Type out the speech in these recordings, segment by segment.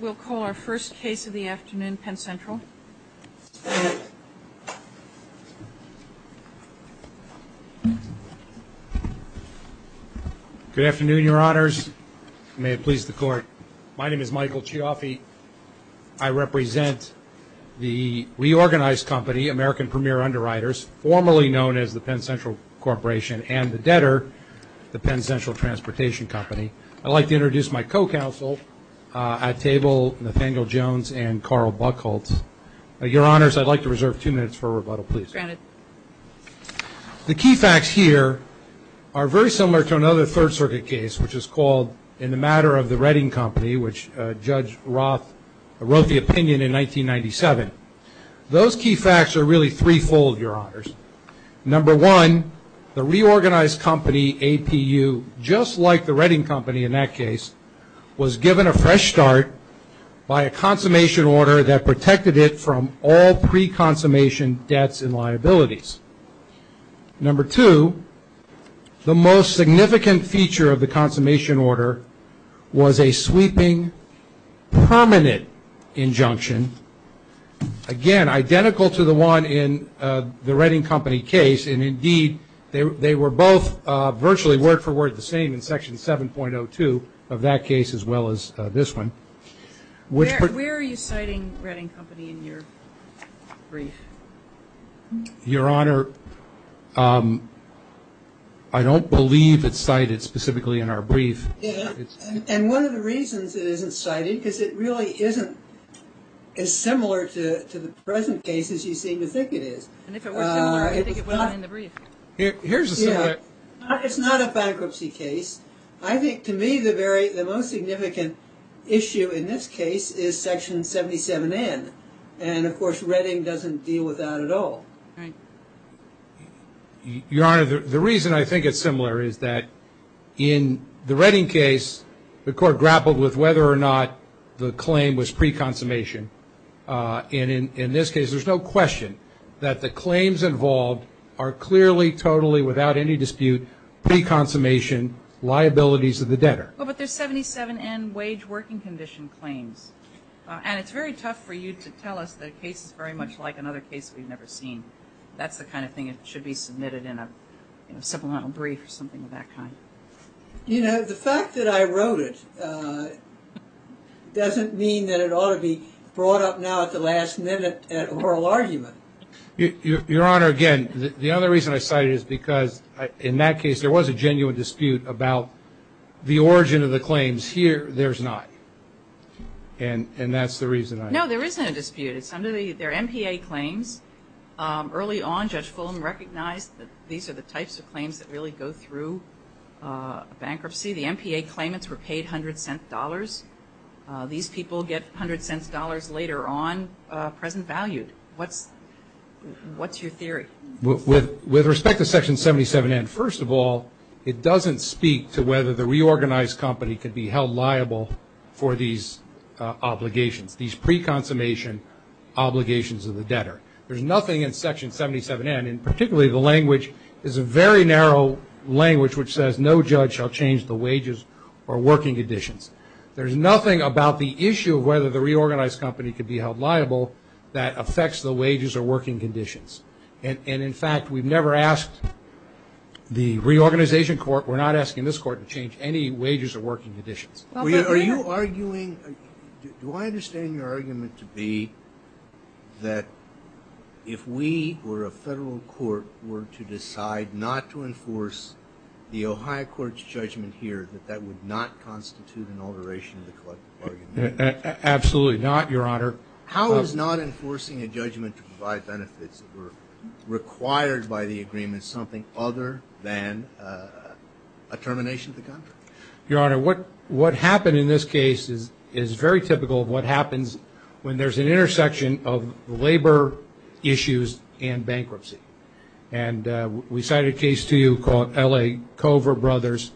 We'll call our first case of the afternoon, Penn Central. Good afternoon, your honors. May it please the court. My name is Michael Chiaffi. I represent the reorganized company, American Premier Underwriters, formerly known as the Penn Central Corporation, and the debtor, the Penn Central Transportation Company. I'd like to introduce my co-counsel at table, Nathaniel Jones and Carl Buchholz. Your honors, I'd like to reserve two minutes for rebuttal, please. Granted. The key facts here are very similar to another Third Circuit case, which is called In The Matter of the Reading Company, which Judge Roth wrote the opinion in 1997. Those key facts are really threefold, your honors. Number one, the reorganized company, APU, just like the Reading Company in that case, was given a fresh start by a consummation order that protected it from all pre-consummation debts and liabilities. Number two, the most significant feature of the consummation order was a sweeping permanent injunction, again, identical to the one in the Reading Company case, and indeed they were both virtually word for word the same in Section 7.02 of that case as well as this one. Where are you citing Reading Company in your brief? Your honor, I don't believe it's cited specifically in our brief. And one of the reasons it isn't cited is it really isn't as similar to the present case as you seem to think it is. And if it were similar, I think it would be in the brief. Here's a similar... It's not a bankruptcy case. I think to me the most significant issue in this case is Section 77N, and of course Reading doesn't deal with that at all. Right. Your honor, the reason I think it's similar is that in the Reading case, the court grappled with whether or not the claim was pre-consummation, and in this case there's no question that the claims involved are clearly, totally, without any dispute pre-consummation liabilities of the debtor. Well, but there's 77N wage working condition claims, and it's very tough for you to tell us the case is very much like another case we've never seen. That's the kind of thing that should be submitted in a supplemental brief or something of that kind. You know, the fact that I wrote it doesn't mean that it ought to be brought up now at the last minute at oral argument. Your honor, again, the other reason I cite it is because in that case there was a genuine dispute about the origin of the claims. Here there's not. And that's the reason I... No, there isn't a dispute. It's under their MPA claims. Early on, Judge Fulham recognized that these are the types of claims that really go through bankruptcy. The MPA claimants were paid $0.01. These people get $0.01 later on, present value. What's your theory? With respect to Section 77N, first of all, it doesn't speak to whether the reorganized company could be held liable for these obligations, these pre-consummation obligations of the debtor. There's nothing in Section 77N, and particularly the language, is a very narrow language which says no judge shall change the wages or working conditions. There's nothing about the issue of whether the reorganized company could be held liable that affects the wages or working conditions. And, in fact, we've never asked the reorganization court, we're not asking this court to change any wages or working conditions. Are you arguing, do I understand your argument to be that if we were a federal court, were to decide not to enforce the Ohio court's judgment here, that that would not constitute an alteration of the collective bargaining agreement? Absolutely not, Your Honor. How is not enforcing a judgment to provide benefits that were required by the agreement something other than a termination of the contract? Your Honor, what happened in this case is very typical of what happens when there's an intersection of labor issues and bankruptcy. And we cited a case to you called L.A. Cover Brothers.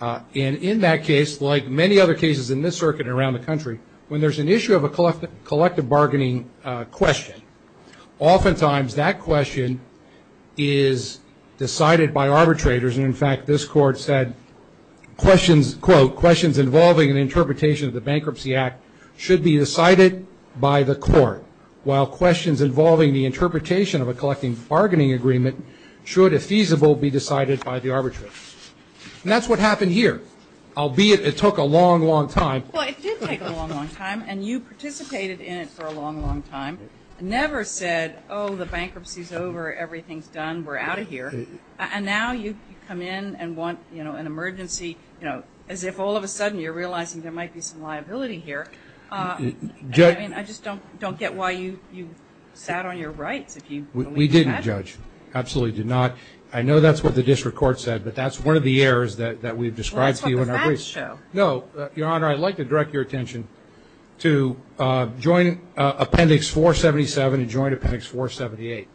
And in that case, like many other cases in this circuit and around the country, when there's an issue of a collective bargaining question, oftentimes that question is decided by arbitrators. And, in fact, this court said, quote, questions involving an interpretation of the Bankruptcy Act should be decided by the court, while questions involving the interpretation of a collective bargaining agreement should, if feasible, be decided by the arbitrator. And that's what happened here, albeit it took a long, long time. Well, it did take a long, long time, and you participated in it for a long, long time, never said, oh, the bankruptcy's over, everything's done, we're out of here. And now you come in and want, you know, an emergency, you know, as if all of a sudden you're realizing there might be some liability here. I mean, I just don't get why you sat on your rights, if you believe that. We didn't, Judge. Absolutely did not. I know that's what the district court said, but that's one of the errors that we've described to you in our briefs. Well, that's what the facts show. No, Your Honor, I'd like to direct your attention to Appendix 477 and Joint Appendix 478.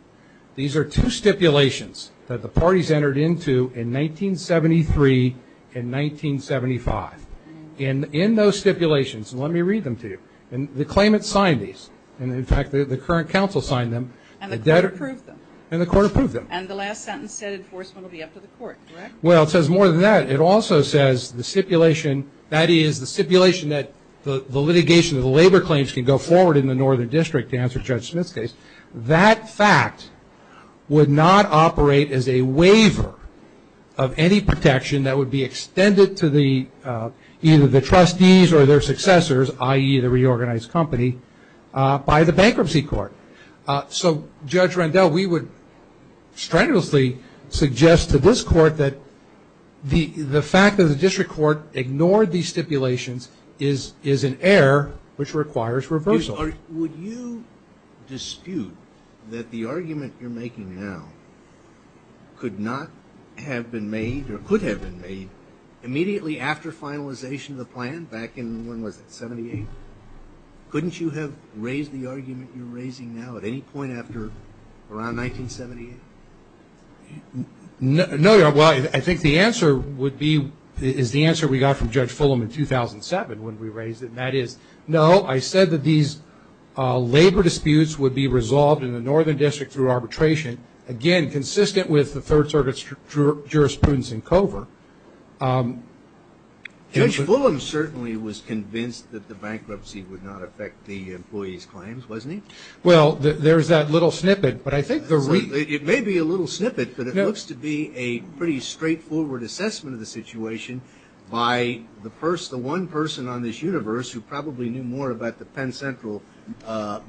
These are two stipulations that the parties entered into in 1973 and 1975. In those stipulations, and let me read them to you, the claimants signed these. In fact, the current counsel signed them. And the court approved them. And the court approved them. And the last sentence said enforcement will be up to the court, correct? Well, it says more than that. It also says the stipulation, that is, the stipulation that the litigation of the labor claims can go forward in the Northern District, to answer Judge Smith's case. That fact would not operate as a waiver of any protection that would be extended to either the trustees or their successors, i.e., the reorganized company, by the bankruptcy court. So, Judge Rendell, we would strenuously suggest to this court that the fact that the district court ignored these stipulations is an error which requires reversal. Would you dispute that the argument you're making now could not have been made or could have been made immediately after finalization of the plan back in, when was it, 78? Couldn't you have raised the argument you're raising now at any point after around 1978? No, Your Honor. Well, I think the answer would be, is the answer we got from Judge Fulham in 2007 when we raised it. And that is, no, I said that these labor disputes would be resolved in the Northern District through arbitration, again, consistent with the Third Circuit's jurisprudence in COVR. Judge Fulham certainly was convinced that the bankruptcy would not affect the employees' claims, wasn't he? Well, there's that little snippet. It may be a little snippet, but it looks to be a pretty straightforward assessment of the situation by the one person on this universe who probably knew more about the Penn Central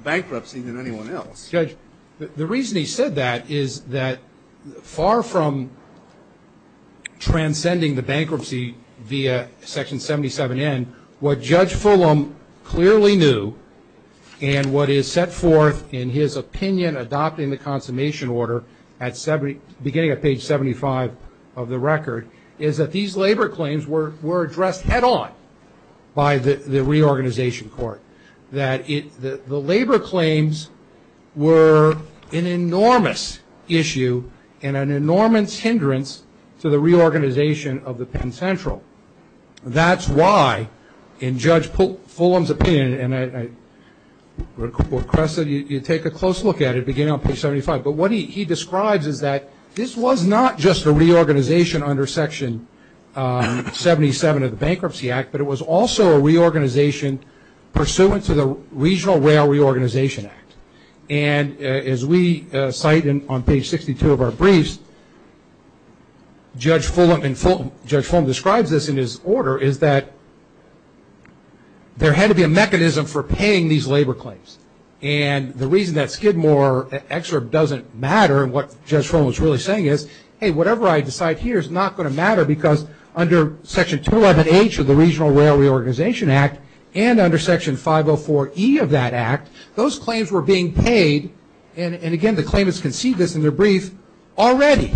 bankruptcy than anyone else. Judge, the reason he said that is that far from transcending the bankruptcy via Section 77N, what Judge Fulham clearly knew and what is set forth in his opinion adopting the consummation order beginning at page 75 of the record is that these labor claims were addressed head-on by the reorganization court, that the labor claims were an enormous issue and an enormous hindrance to the reorganization of the Penn Central. That's why in Judge Fulham's opinion, and, Cressa, you take a close look at it beginning on page 75, but what he describes is that this was not just a reorganization under Section 77 of the Bankruptcy Act, but it was also a reorganization pursuant to the Regional Rail Reorganization Act. And as we cite on page 62 of our briefs, Judge Fulham describes this in his order, is that there had to be a mechanism for paying these labor claims. And the reason that Skidmore excerpt doesn't matter and what Judge Fulham is really saying is, hey, whatever I decide here is not going to matter because under Section 211H of the Regional Rail Reorganization Act and under Section 504E of that act, those claims were being paid, and again the claimants can see this in their brief, already.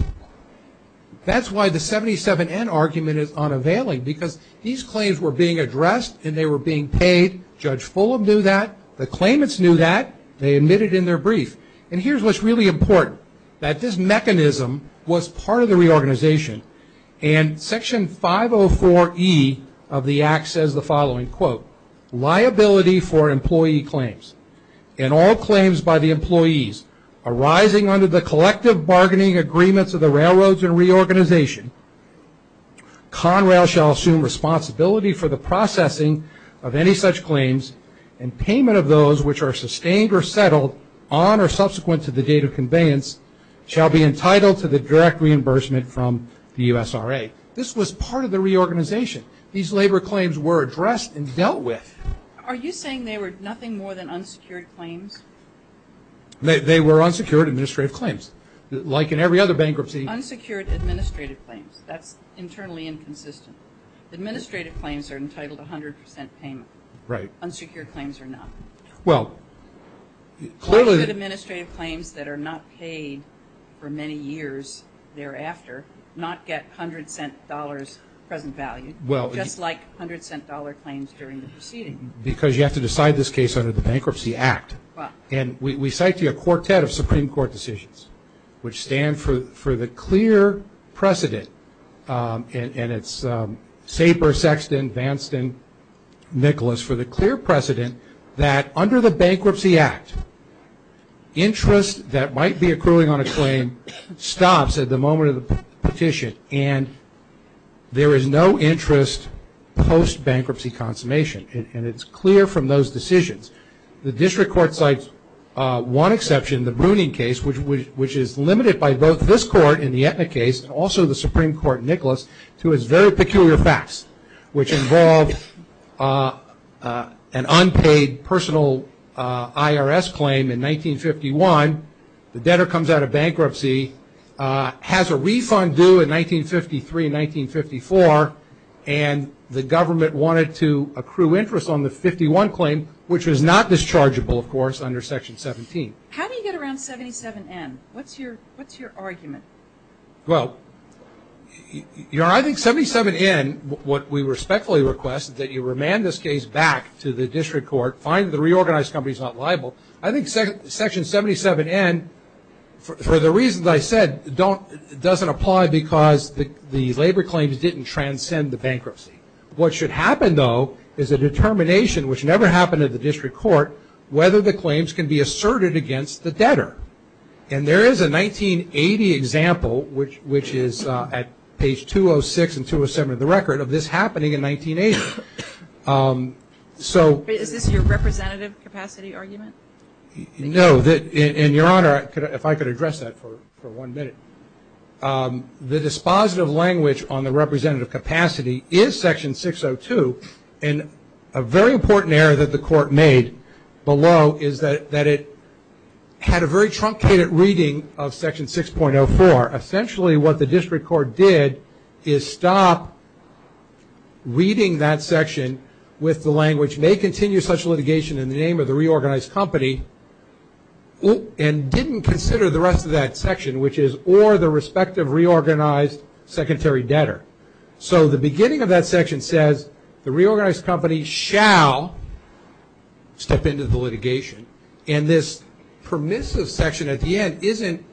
That's why the 77N argument is unavailing because these claims were being addressed and they were being paid. Judge Fulham knew that. The claimants knew that. They admitted in their brief. And here's what's really important, that this mechanism was part of the reorganization. And Section 504E of the act says the following, quote, liability for employee claims and all claims by the employees arising under the collective bargaining agreements of the railroads and reorganization. Conrail shall assume responsibility for the processing of any such claims and payment of those which are sustained or settled on or subsequent to the date of conveyance shall be entitled to the direct reimbursement from the USRA. This was part of the reorganization. These labor claims were addressed and dealt with. Are you saying they were nothing more than unsecured claims? They were unsecured administrative claims. Like in every other bankruptcy. Unsecured administrative claims. That's internally inconsistent. Administrative claims are entitled to 100% payment. Right. Unsecured claims are not. Well, clearly. Why should administrative claims that are not paid for many years thereafter not get $100 present value, just like $100 claims during the proceeding? Because you have to decide this case under the Bankruptcy Act. And we cite to you a quartet of Supreme Court decisions which stand for the clear precedent, and it's Saper, Sexton, Vanston, Nicholas, for the clear precedent that under the Bankruptcy Act, interest that might be accruing on a claim stops at the moment of the petition, and there is no interest post-bankruptcy consummation. And it's clear from those decisions. The district court cites one exception, the Bruning case, which is limited by both this court in the Etna case and also the Supreme Court in Nicholas to its very peculiar facts, which involved an unpaid personal IRS claim in 1951. The debtor comes out of bankruptcy, has a refund due in 1953 and 1954, and the government wanted to accrue interest on the 51 claim, which was not dischargeable, of course, under Section 17. How do you get around 77N? What's your argument? Well, you know, I think 77N, what we respectfully request, that you remand this case back to the district court, find the reorganized companies not liable. I think Section 77N, for the reasons I said, doesn't apply because the labor claims didn't transcend the bankruptcy. What should happen, though, is a determination, which never happened at the district court, whether the claims can be asserted against the debtor. And there is a 1980 example, which is at page 206 and 207 of the record, of this happening in 1980. Is this your representative capacity argument? No. And, Your Honor, if I could address that for one minute. The dispositive language on the representative capacity is Section 602, and a very important error that the court made below is that it had a very truncated reading of Section 6.04. Essentially what the district court did is stop reading that section with the language, which may continue such litigation in the name of the reorganized company, and didn't consider the rest of that section, which is, or the respective reorganized secondary debtor. So the beginning of that section says the reorganized company shall step into the litigation. And this permissive section at the end isn't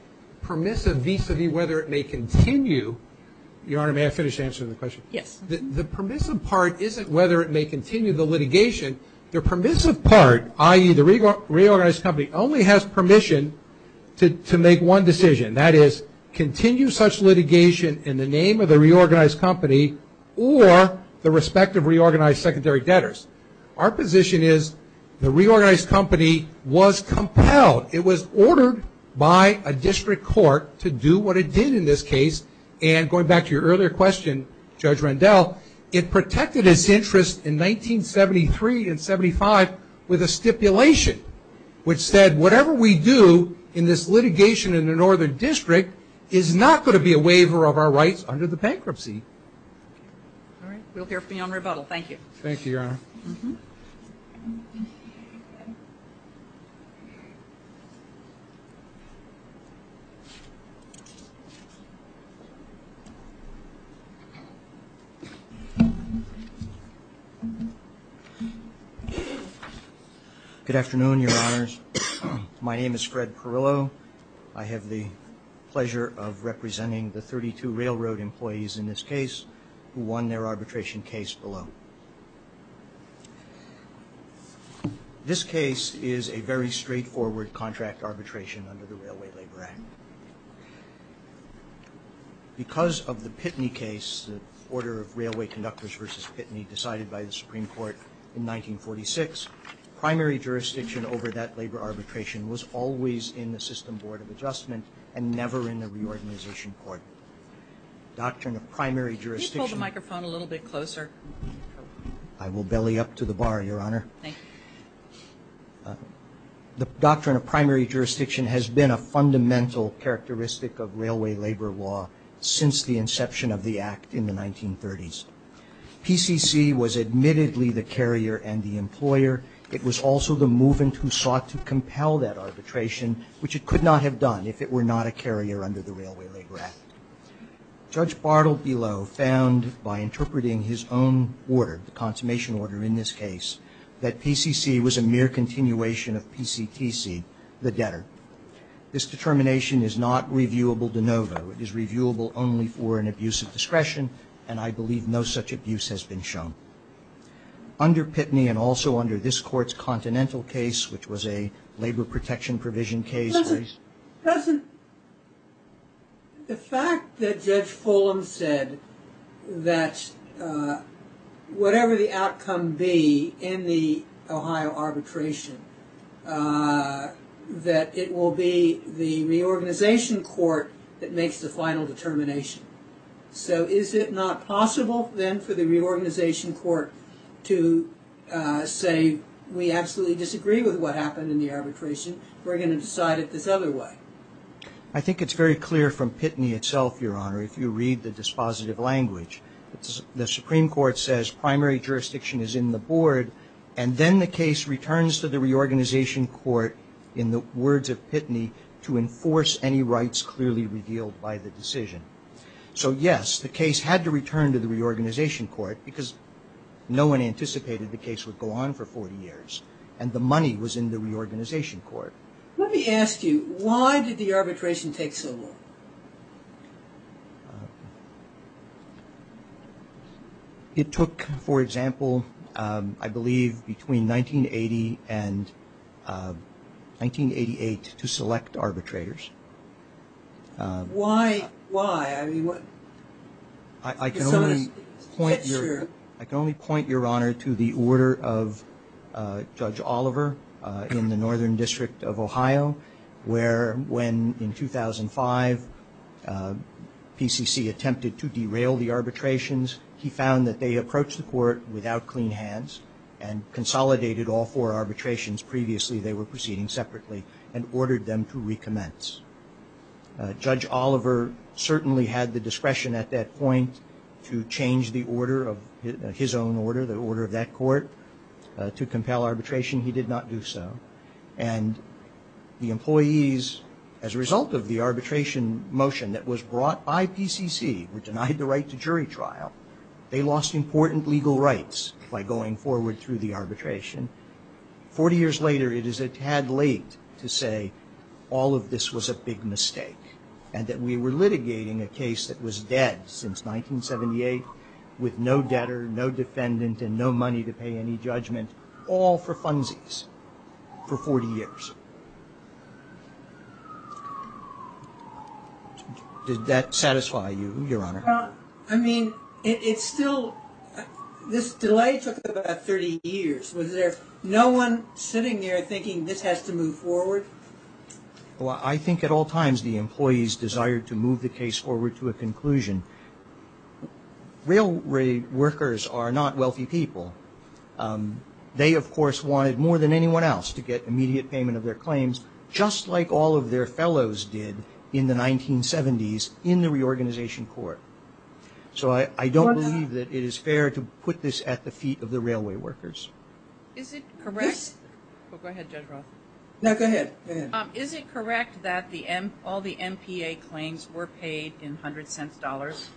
permissive vis-a-vis whether it may continue. Your Honor, may I finish answering the question? Yes. The permissive part isn't whether it may continue the litigation. The permissive part, i.e., the reorganized company, only has permission to make one decision. That is, continue such litigation in the name of the reorganized company or the respective reorganized secondary debtors. Our position is the reorganized company was compelled. It was ordered by a district court to do what it did in this case. And going back to your earlier question, Judge Rendell, it protected its interest in 1973 and 1975 with a stipulation, which said whatever we do in this litigation in the Northern District is not going to be a waiver of our rights under the bankruptcy. All right. We'll hear from you on rebuttal. Thank you. Thank you, Your Honor. Thank you, Your Honor. Good afternoon, Your Honors. My name is Fred Perillo. I have the pleasure of representing the 32 railroad employees in this case who won their arbitration case below. This case is a very straightforward contract arbitration under the Railway Labor Act. Because of the Pitney case, the order of railway conductors versus Pitney decided by the Supreme Court in 1946, primary jurisdiction over that labor arbitration was always in the system board of adjustment and never in the reorganization court. Doctrine of primary jurisdiction. Can you pull the microphone a little bit closer? I will belly up to the bar, Your Honor. Thank you. The doctrine of primary jurisdiction has been a fundamental characteristic of railway labor law since the inception of the Act in the 1930s. PCC was admittedly the carrier and the employer. It was also the movement who sought to compel that arbitration, which it could not have done if it were not a carrier under the Railway Labor Act. Judge Bartle below found by interpreting his own order, the consummation order in this case, that PCC was a mere continuation of PCTC, the debtor. This determination is not reviewable de novo. It is reviewable only for an abuse of discretion, and I believe no such abuse has been shown. Under Pitney and also under this court's continental case, which was a labor protection provision case. Doesn't the fact that Judge Fulham said that whatever the outcome be in the Ohio arbitration, that it will be the reorganization court that makes the final determination. So is it not possible then for the reorganization court to say, we absolutely disagree with what happened in the arbitration. We're going to decide it this other way. I think it's very clear from Pitney itself, Your Honor, if you read the dispositive language. The Supreme Court says primary jurisdiction is in the board, and then the case returns to the reorganization court in the words of Pitney, to enforce any rights clearly revealed by the decision. So yes, the case had to return to the reorganization court, because no one anticipated the case would go on for 40 years, and the money was in the reorganization court. Let me ask you, why did the arbitration take so long? It took, for example, I believe between 1980 and 1988 to select arbitrators. Why? I can only point, Your Honor, to the order of Judge Oliver in the Northern District of Ohio, where when in 2005 PCC attempted to derail the arbitrations, he found that they approached the court without clean hands and consolidated all four arbitrations previously they were proceeding separately and ordered them to recommence. Judge Oliver certainly had the discretion at that point to change the order of his own order, the order of that court, to compel arbitration. He did not do so. And the employees, as a result of the arbitration motion that was brought by PCC, were denied the right to jury trial. They lost important legal rights by going forward through the arbitration. Forty years later, it is a tad late to say all of this was a big mistake and that we were litigating a case that was dead since 1978, with no debtor, no defendant, and no money to pay any judgment, all for funsies for 40 years. Did that satisfy you, Your Honor? Well, I mean, it's still, this delay took about 30 years. Was there no one sitting there thinking this has to move forward? Well, I think at all times the employees desired to move the case forward to a conclusion. Railway workers are not wealthy people. They, of course, wanted more than anyone else to get immediate payment of their claims, just like all of their fellows did in the 1970s in the reorganization court. So I don't believe that it is fair to put this at the feet of the railway workers. Is it correct? Yes. Go ahead, Judge Roth. No, go ahead. Go ahead. Is it correct that all the MPA claims were paid in hundred cents dollars?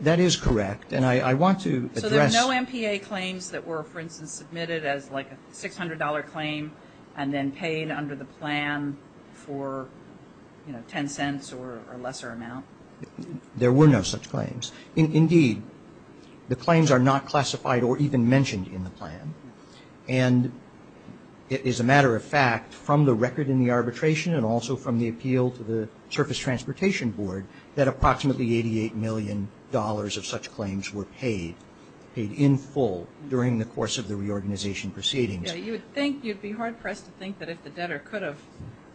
That is correct. And I want to address. So there were no MPA claims that were, for instance, submitted as like a $600 claim and then paid under the plan for, you know, ten cents or a lesser amount? There were no such claims. Indeed, the claims are not classified or even mentioned in the plan. And it is a matter of fact from the record in the arbitration and also from the appeal to the Surface Transportation Board that approximately $88 million of such claims were paid, paid in full during the course of the reorganization proceedings. You would think, you would be hard pressed to think that if the debtor could have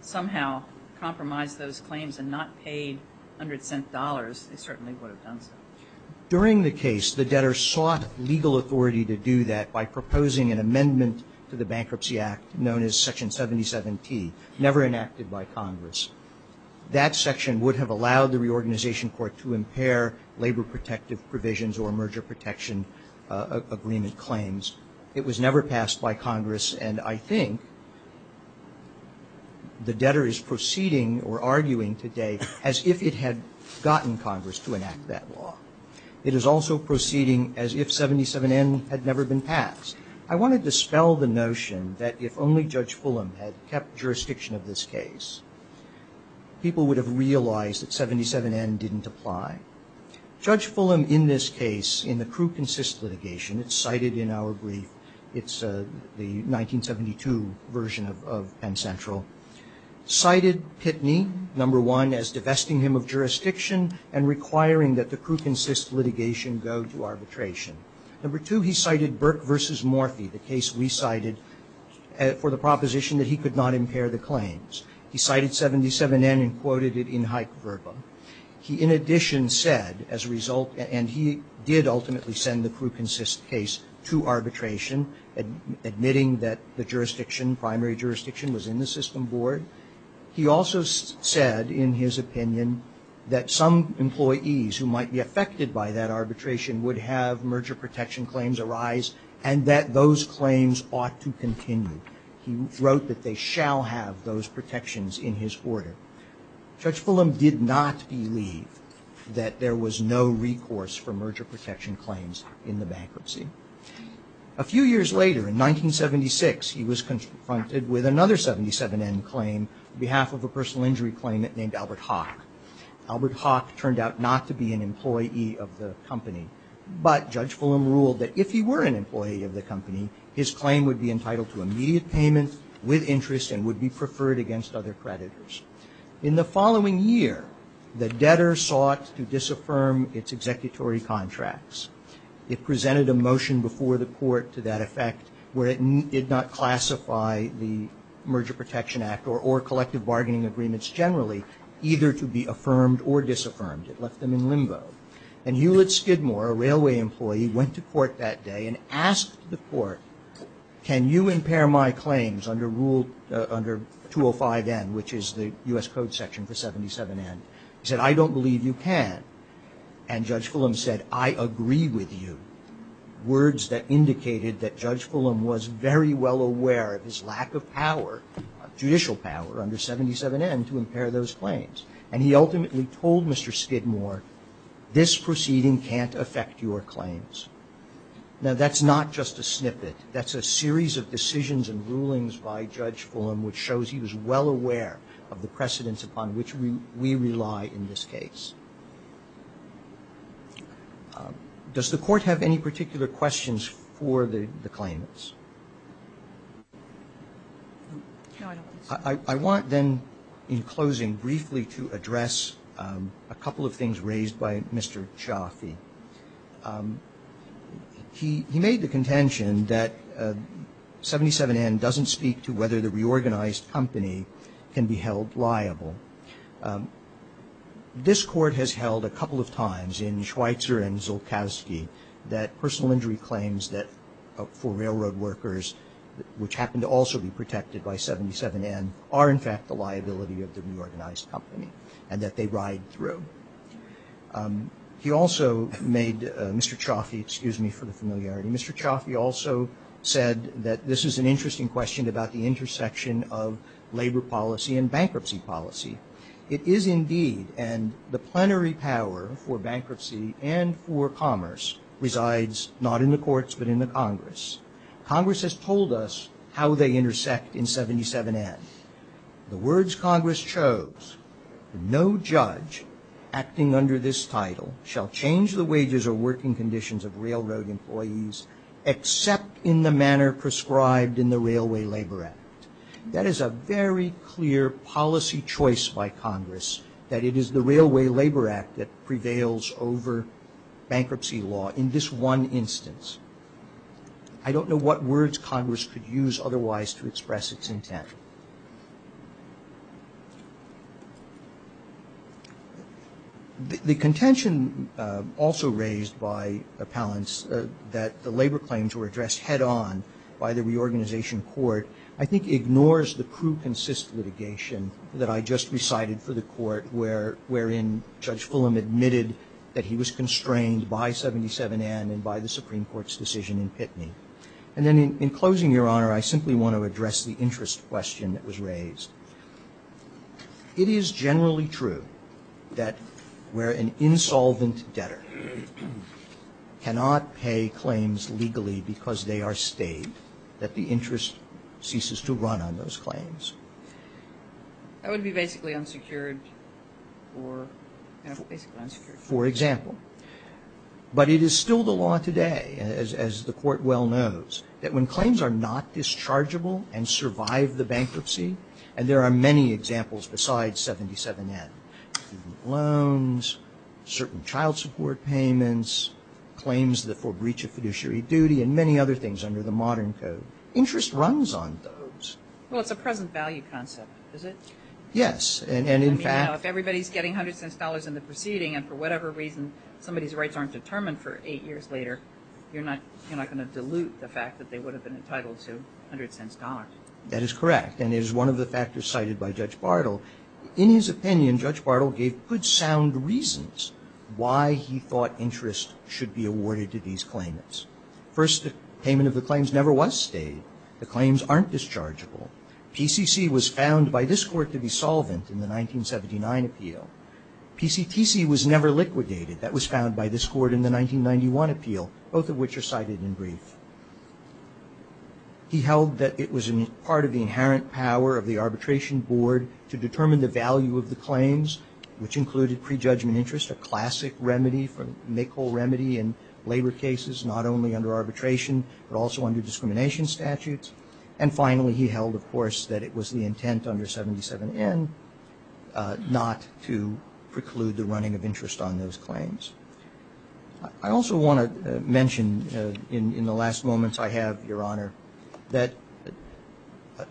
somehow compromised those claims and not paid hundred cent dollars, they certainly would have done so. During the case, the debtor sought legal authority to do that by proposing an amendment to the Bankruptcy Act known as Section 77T, never enacted by Congress. That section would have allowed the reorganization court to impair labor protective provisions or merger protection agreement claims. It was never passed by Congress, and I think the debtor is proceeding or arguing today as if it had gotten Congress to enact that law. It is also proceeding as if 77N had never been passed. I want to dispel the notion that if only Judge Fulham had kept jurisdiction of this case, people would have realized that 77N didn't apply. Judge Fulham, in this case, in the Crew Consist litigation, it's cited in our brief, it's the 1972 version of Penn Central, cited Pitney, number one, as divesting him of jurisdiction and requiring that the Crew Consist litigation go to arbitration. Number two, he cited Burke v. Morphy, the case we cited for the proposition that he could not impair the claims. He cited 77N and quoted it in Hike-Verba. He, in addition, said, as a result, and he did ultimately send the Crew Consist case to arbitration, admitting that the jurisdiction, primary jurisdiction, was in the system board. He also said, in his opinion, that some employees who might be affected by that arbitration would have merger protection claims arise and that those claims ought to continue. He wrote that they shall have those protections in his order. Judge Fulham did not believe that there was no recourse for merger protection claims in the bankruptcy. A few years later, in 1976, he was confronted with another 77N claim on behalf of a personal injury claimant named Albert Hawk. Albert Hawk turned out not to be an employee of the company, but Judge Fulham ruled that if he were an employee of the company, his claim would be entitled to immediate payment with interest and would be preferred against other creditors. In the following year, the debtor sought to disaffirm its executory contracts. It presented a motion before the court to that effect where it did not classify the Merger Protection Act or collective bargaining agreements generally either to be affirmed or disaffirmed. It left them in limbo. And Hewlett Skidmore, a railway employee, went to court that day and asked the court, can you impair my claims under rule, under 205N, which is the U.S. Code section for 77N? He said, I don't believe you can. And Judge Fulham said, I agree with you. Words that indicated that Judge Fulham was very well aware of his lack of power, judicial power under 77N to impair those claims. And he ultimately told Mr. Skidmore, this proceeding can't affect your claims. Now, that's not just a snippet. That's a series of decisions and rulings by Judge Fulham which shows he was well aware of the precedents upon which we rely in this case. Does the court have any particular questions for the claimants? No, I don't. I want then, in closing, briefly to address a couple of things raised by Mr. Chaffee. He made the contention that 77N doesn't speak to whether the reorganized company can be held liable. This court has held a couple of times in Schweitzer and Zulkowski that personal injury claims for railroad workers, which happen to also be protected by 77N, are in fact the liability of the reorganized company and that they ride through. He also made Mr. Chaffee, excuse me for the familiarity, Mr. Chaffee also said that this is an interesting question about the intersection of labor policy and bankruptcy policy. It is indeed, and the plenary power for bankruptcy and for commerce resides not in the courts but in the Congress. Congress has told us how they intersect in 77N. The words Congress chose, no judge acting under this title shall change the wages or working conditions of railroad employees except in the manner prescribed in the Railway Labor Act. That is a very clear policy choice by Congress that it is the Railway Labor Act that prevails over bankruptcy law in this one instance. I don't know what words Congress could use otherwise to express its intent. The contention also raised by appellants that the labor claims were addressed head-on by the reorganization court, I think ignores the pre-consistent litigation that I just recited for the court wherein Judge Fulham admitted that he was constrained by 77N and by the Supreme Court's decision in Pitney. And then in closing, Your Honor, I simply want to address the interest question that was raised. It is generally true that where an insolvent debtor cannot pay claims legally because they are stayed, that the interest ceases to run on those claims. That would be basically unsecured. For example, but it is still the law today, as the court well knows, that when claims are not dischargeable and survive the bankruptcy, and there are many examples besides 77N, loans, certain child support payments, claims for breach of fiduciary duty, and many other things under the modern code, interest runs on those. Well, it's a present value concept, is it? Yes. I mean, if everybody's getting $0.01 in the proceeding, and for whatever reason somebody's rights aren't determined for eight years later, you're not going to dilute the fact that they would have been entitled to $0.01. That is correct. And it is one of the factors cited by Judge Bartle. In his opinion, Judge Bartle gave good sound reasons why he thought interest should be awarded to these claimants. First, the payment of the claims never was stayed. The claims aren't dischargeable. PCC was found by this court to be solvent in the 1979 appeal. PCTC was never liquidated. That was found by this court in the 1991 appeal, both of which are cited in brief. He held that it was part of the inherent power of the arbitration board to determine the value of the claims, which included prejudgment interest, a classic remedy, a make-all remedy in labor cases not only under arbitration but also under discrimination statutes. And finally, he held, of course, that it was the intent under 77N not to preclude the running of interest on those claims. I also want to mention in the last moments I have, Your Honor, that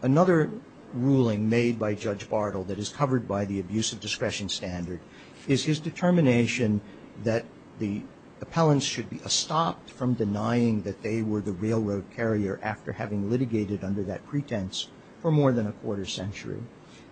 another ruling made by Judge Bartle that is covered by the abuse of discretion standard is his determination that the appellants should be stopped from denying that they were the railroad carrier after having litigated under that pretense for more than a quarter century.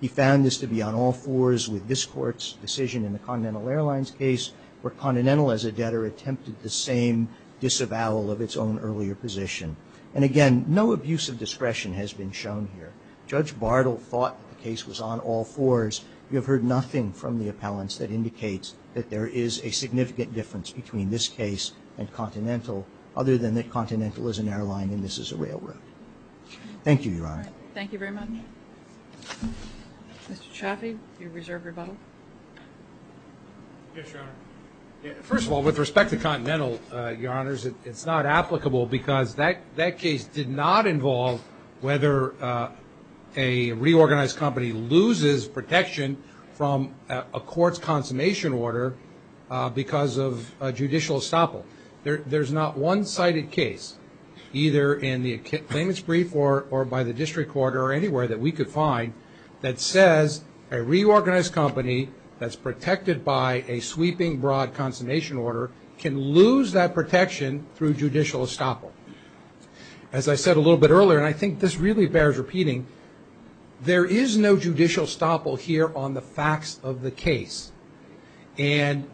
He found this to be on all fours with this court's decision in the Continental Airlines case where Continental, as a debtor, attempted the same disavowal of its own earlier position. And again, no abuse of discretion has been shown here. Judge Bartle thought the case was on all fours. You have heard nothing from the appellants that indicates that there is a significant difference between this case and Continental other than that Continental is an airline and this is a railroad. Thank you, Your Honor. Thank you very much. Mr. Chaffee, your reserve rebuttal. Yes, Your Honor. First of all, with respect to Continental, Your Honors, it's not applicable because that case did not involve whether a reorganized company loses protection from a court's consummation order because of judicial estoppel. There's not one cited case, either in the claimants' brief or by the district court or anywhere that we could find, that says a reorganized company that's protected by a sweeping broad consummation order can lose that protection through judicial estoppel. As I said a little bit earlier, and I think this really bears repeating, there is no judicial estoppel here on the facts of the case. And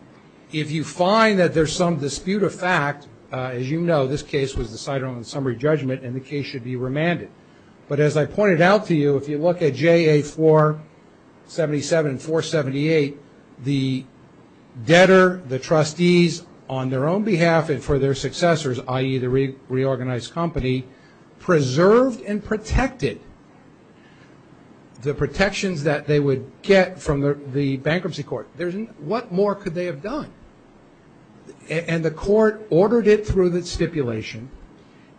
if you find that there's some dispute of fact, as you know, this case was decided on summary judgment and the case should be remanded. But as I pointed out to you, if you look at JA-477-478, the debtor, the trustees, on their own behalf and for their successors, i.e., the reorganized company, preserved and protected the protections that they would get from the bankruptcy court. What more could they have done? And the court ordered it through the stipulation.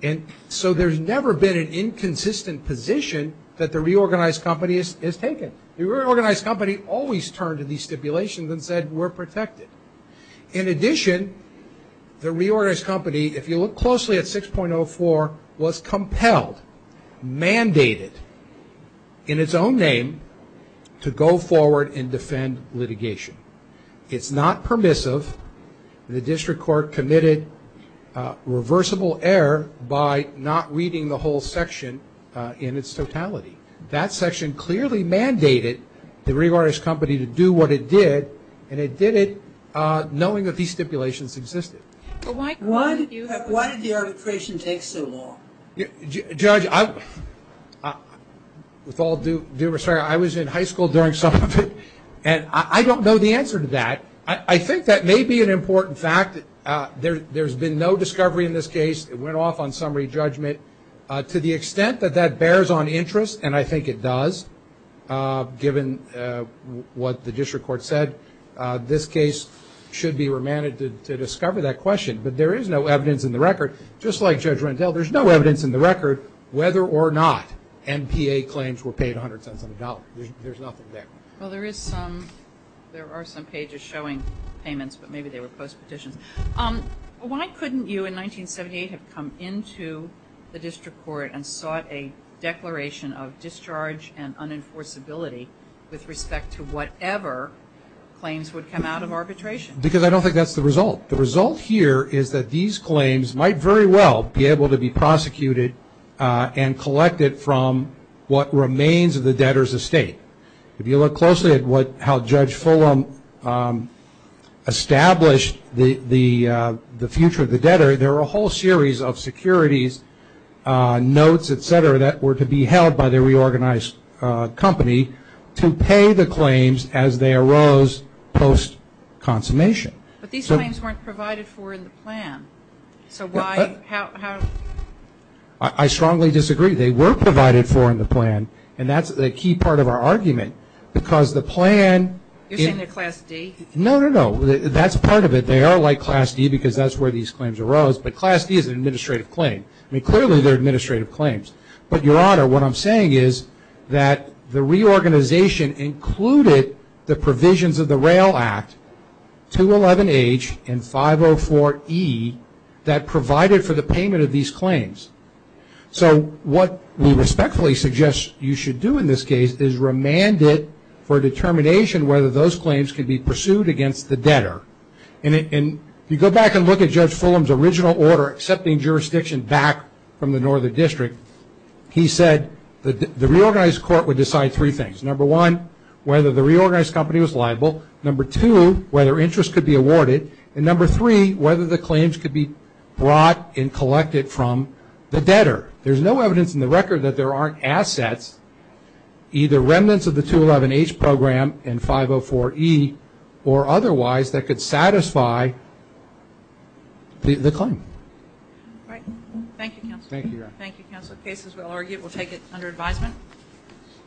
And so there's never been an inconsistent position that the reorganized company has taken. The reorganized company always turned to these stipulations and said, we're protected. In addition, the reorganized company, if you look closely at 6.04, was compelled, mandated, in its own name, to go forward and defend litigation. It's not permissive. The district court committed reversible error by not reading the whole section in its totality. That section clearly mandated the reorganized company to do what it did, and it did it knowing that these stipulations existed. Why did the arbitration take so long? Judge, with all due respect, I was in high school during some of it, and I don't know the answer to that. I think that may be an important fact. There's been no discovery in this case. It went off on summary judgment. To the extent that that bears on interest, and I think it does, given what the district court said, this case should be remanded to discover that question. But there is no evidence in the record, just like Judge Rendell, there's no evidence in the record whether or not MPA claims were paid 100 cents on the dollar. There's nothing there. Well, there are some pages showing payments, but maybe they were post petitions. Why couldn't you in 1978 have come into the district court and sought a declaration of discharge and unenforceability with respect to whatever claims would come out of arbitration? Because I don't think that's the result. The result here is that these claims might very well be able to be prosecuted and collected from what remains of the debtor's estate. If you look closely at how Judge Fulham established the future of the debtor, there are a whole series of securities, notes, et cetera, that were to be held by the reorganized company to pay the claims as they arose post consummation. But these claims weren't provided for in the plan. So why? I strongly disagree. They were provided for in the plan, and that's a key part of our argument. Because the plan – You're saying they're Class D? No, no, no. That's part of it. They are like Class D because that's where these claims arose. But Class D is an administrative claim. I mean, clearly they're administrative claims. But, Your Honor, what I'm saying is that the reorganization included the provisions of the Rail Act, 211H and 504E that provided for the payment of these claims. So what we respectfully suggest you should do in this case is remand it for determination whether those claims could be pursued against the debtor. And if you go back and look at Judge Fulham's original order accepting jurisdiction back from the Northern District, he said the reorganized court would decide three things. Number one, whether the reorganized company was liable. Number two, whether interest could be awarded. And number three, whether the claims could be brought and collected from the debtor. There's no evidence in the record that there aren't assets, either remnants of the 211H program and 504E, or otherwise that could satisfy the claim. All right. Thank you, Counsel. Thank you, Your Honor. Thank you, Counsel. The case, as we'll argue, we'll take it under advisement.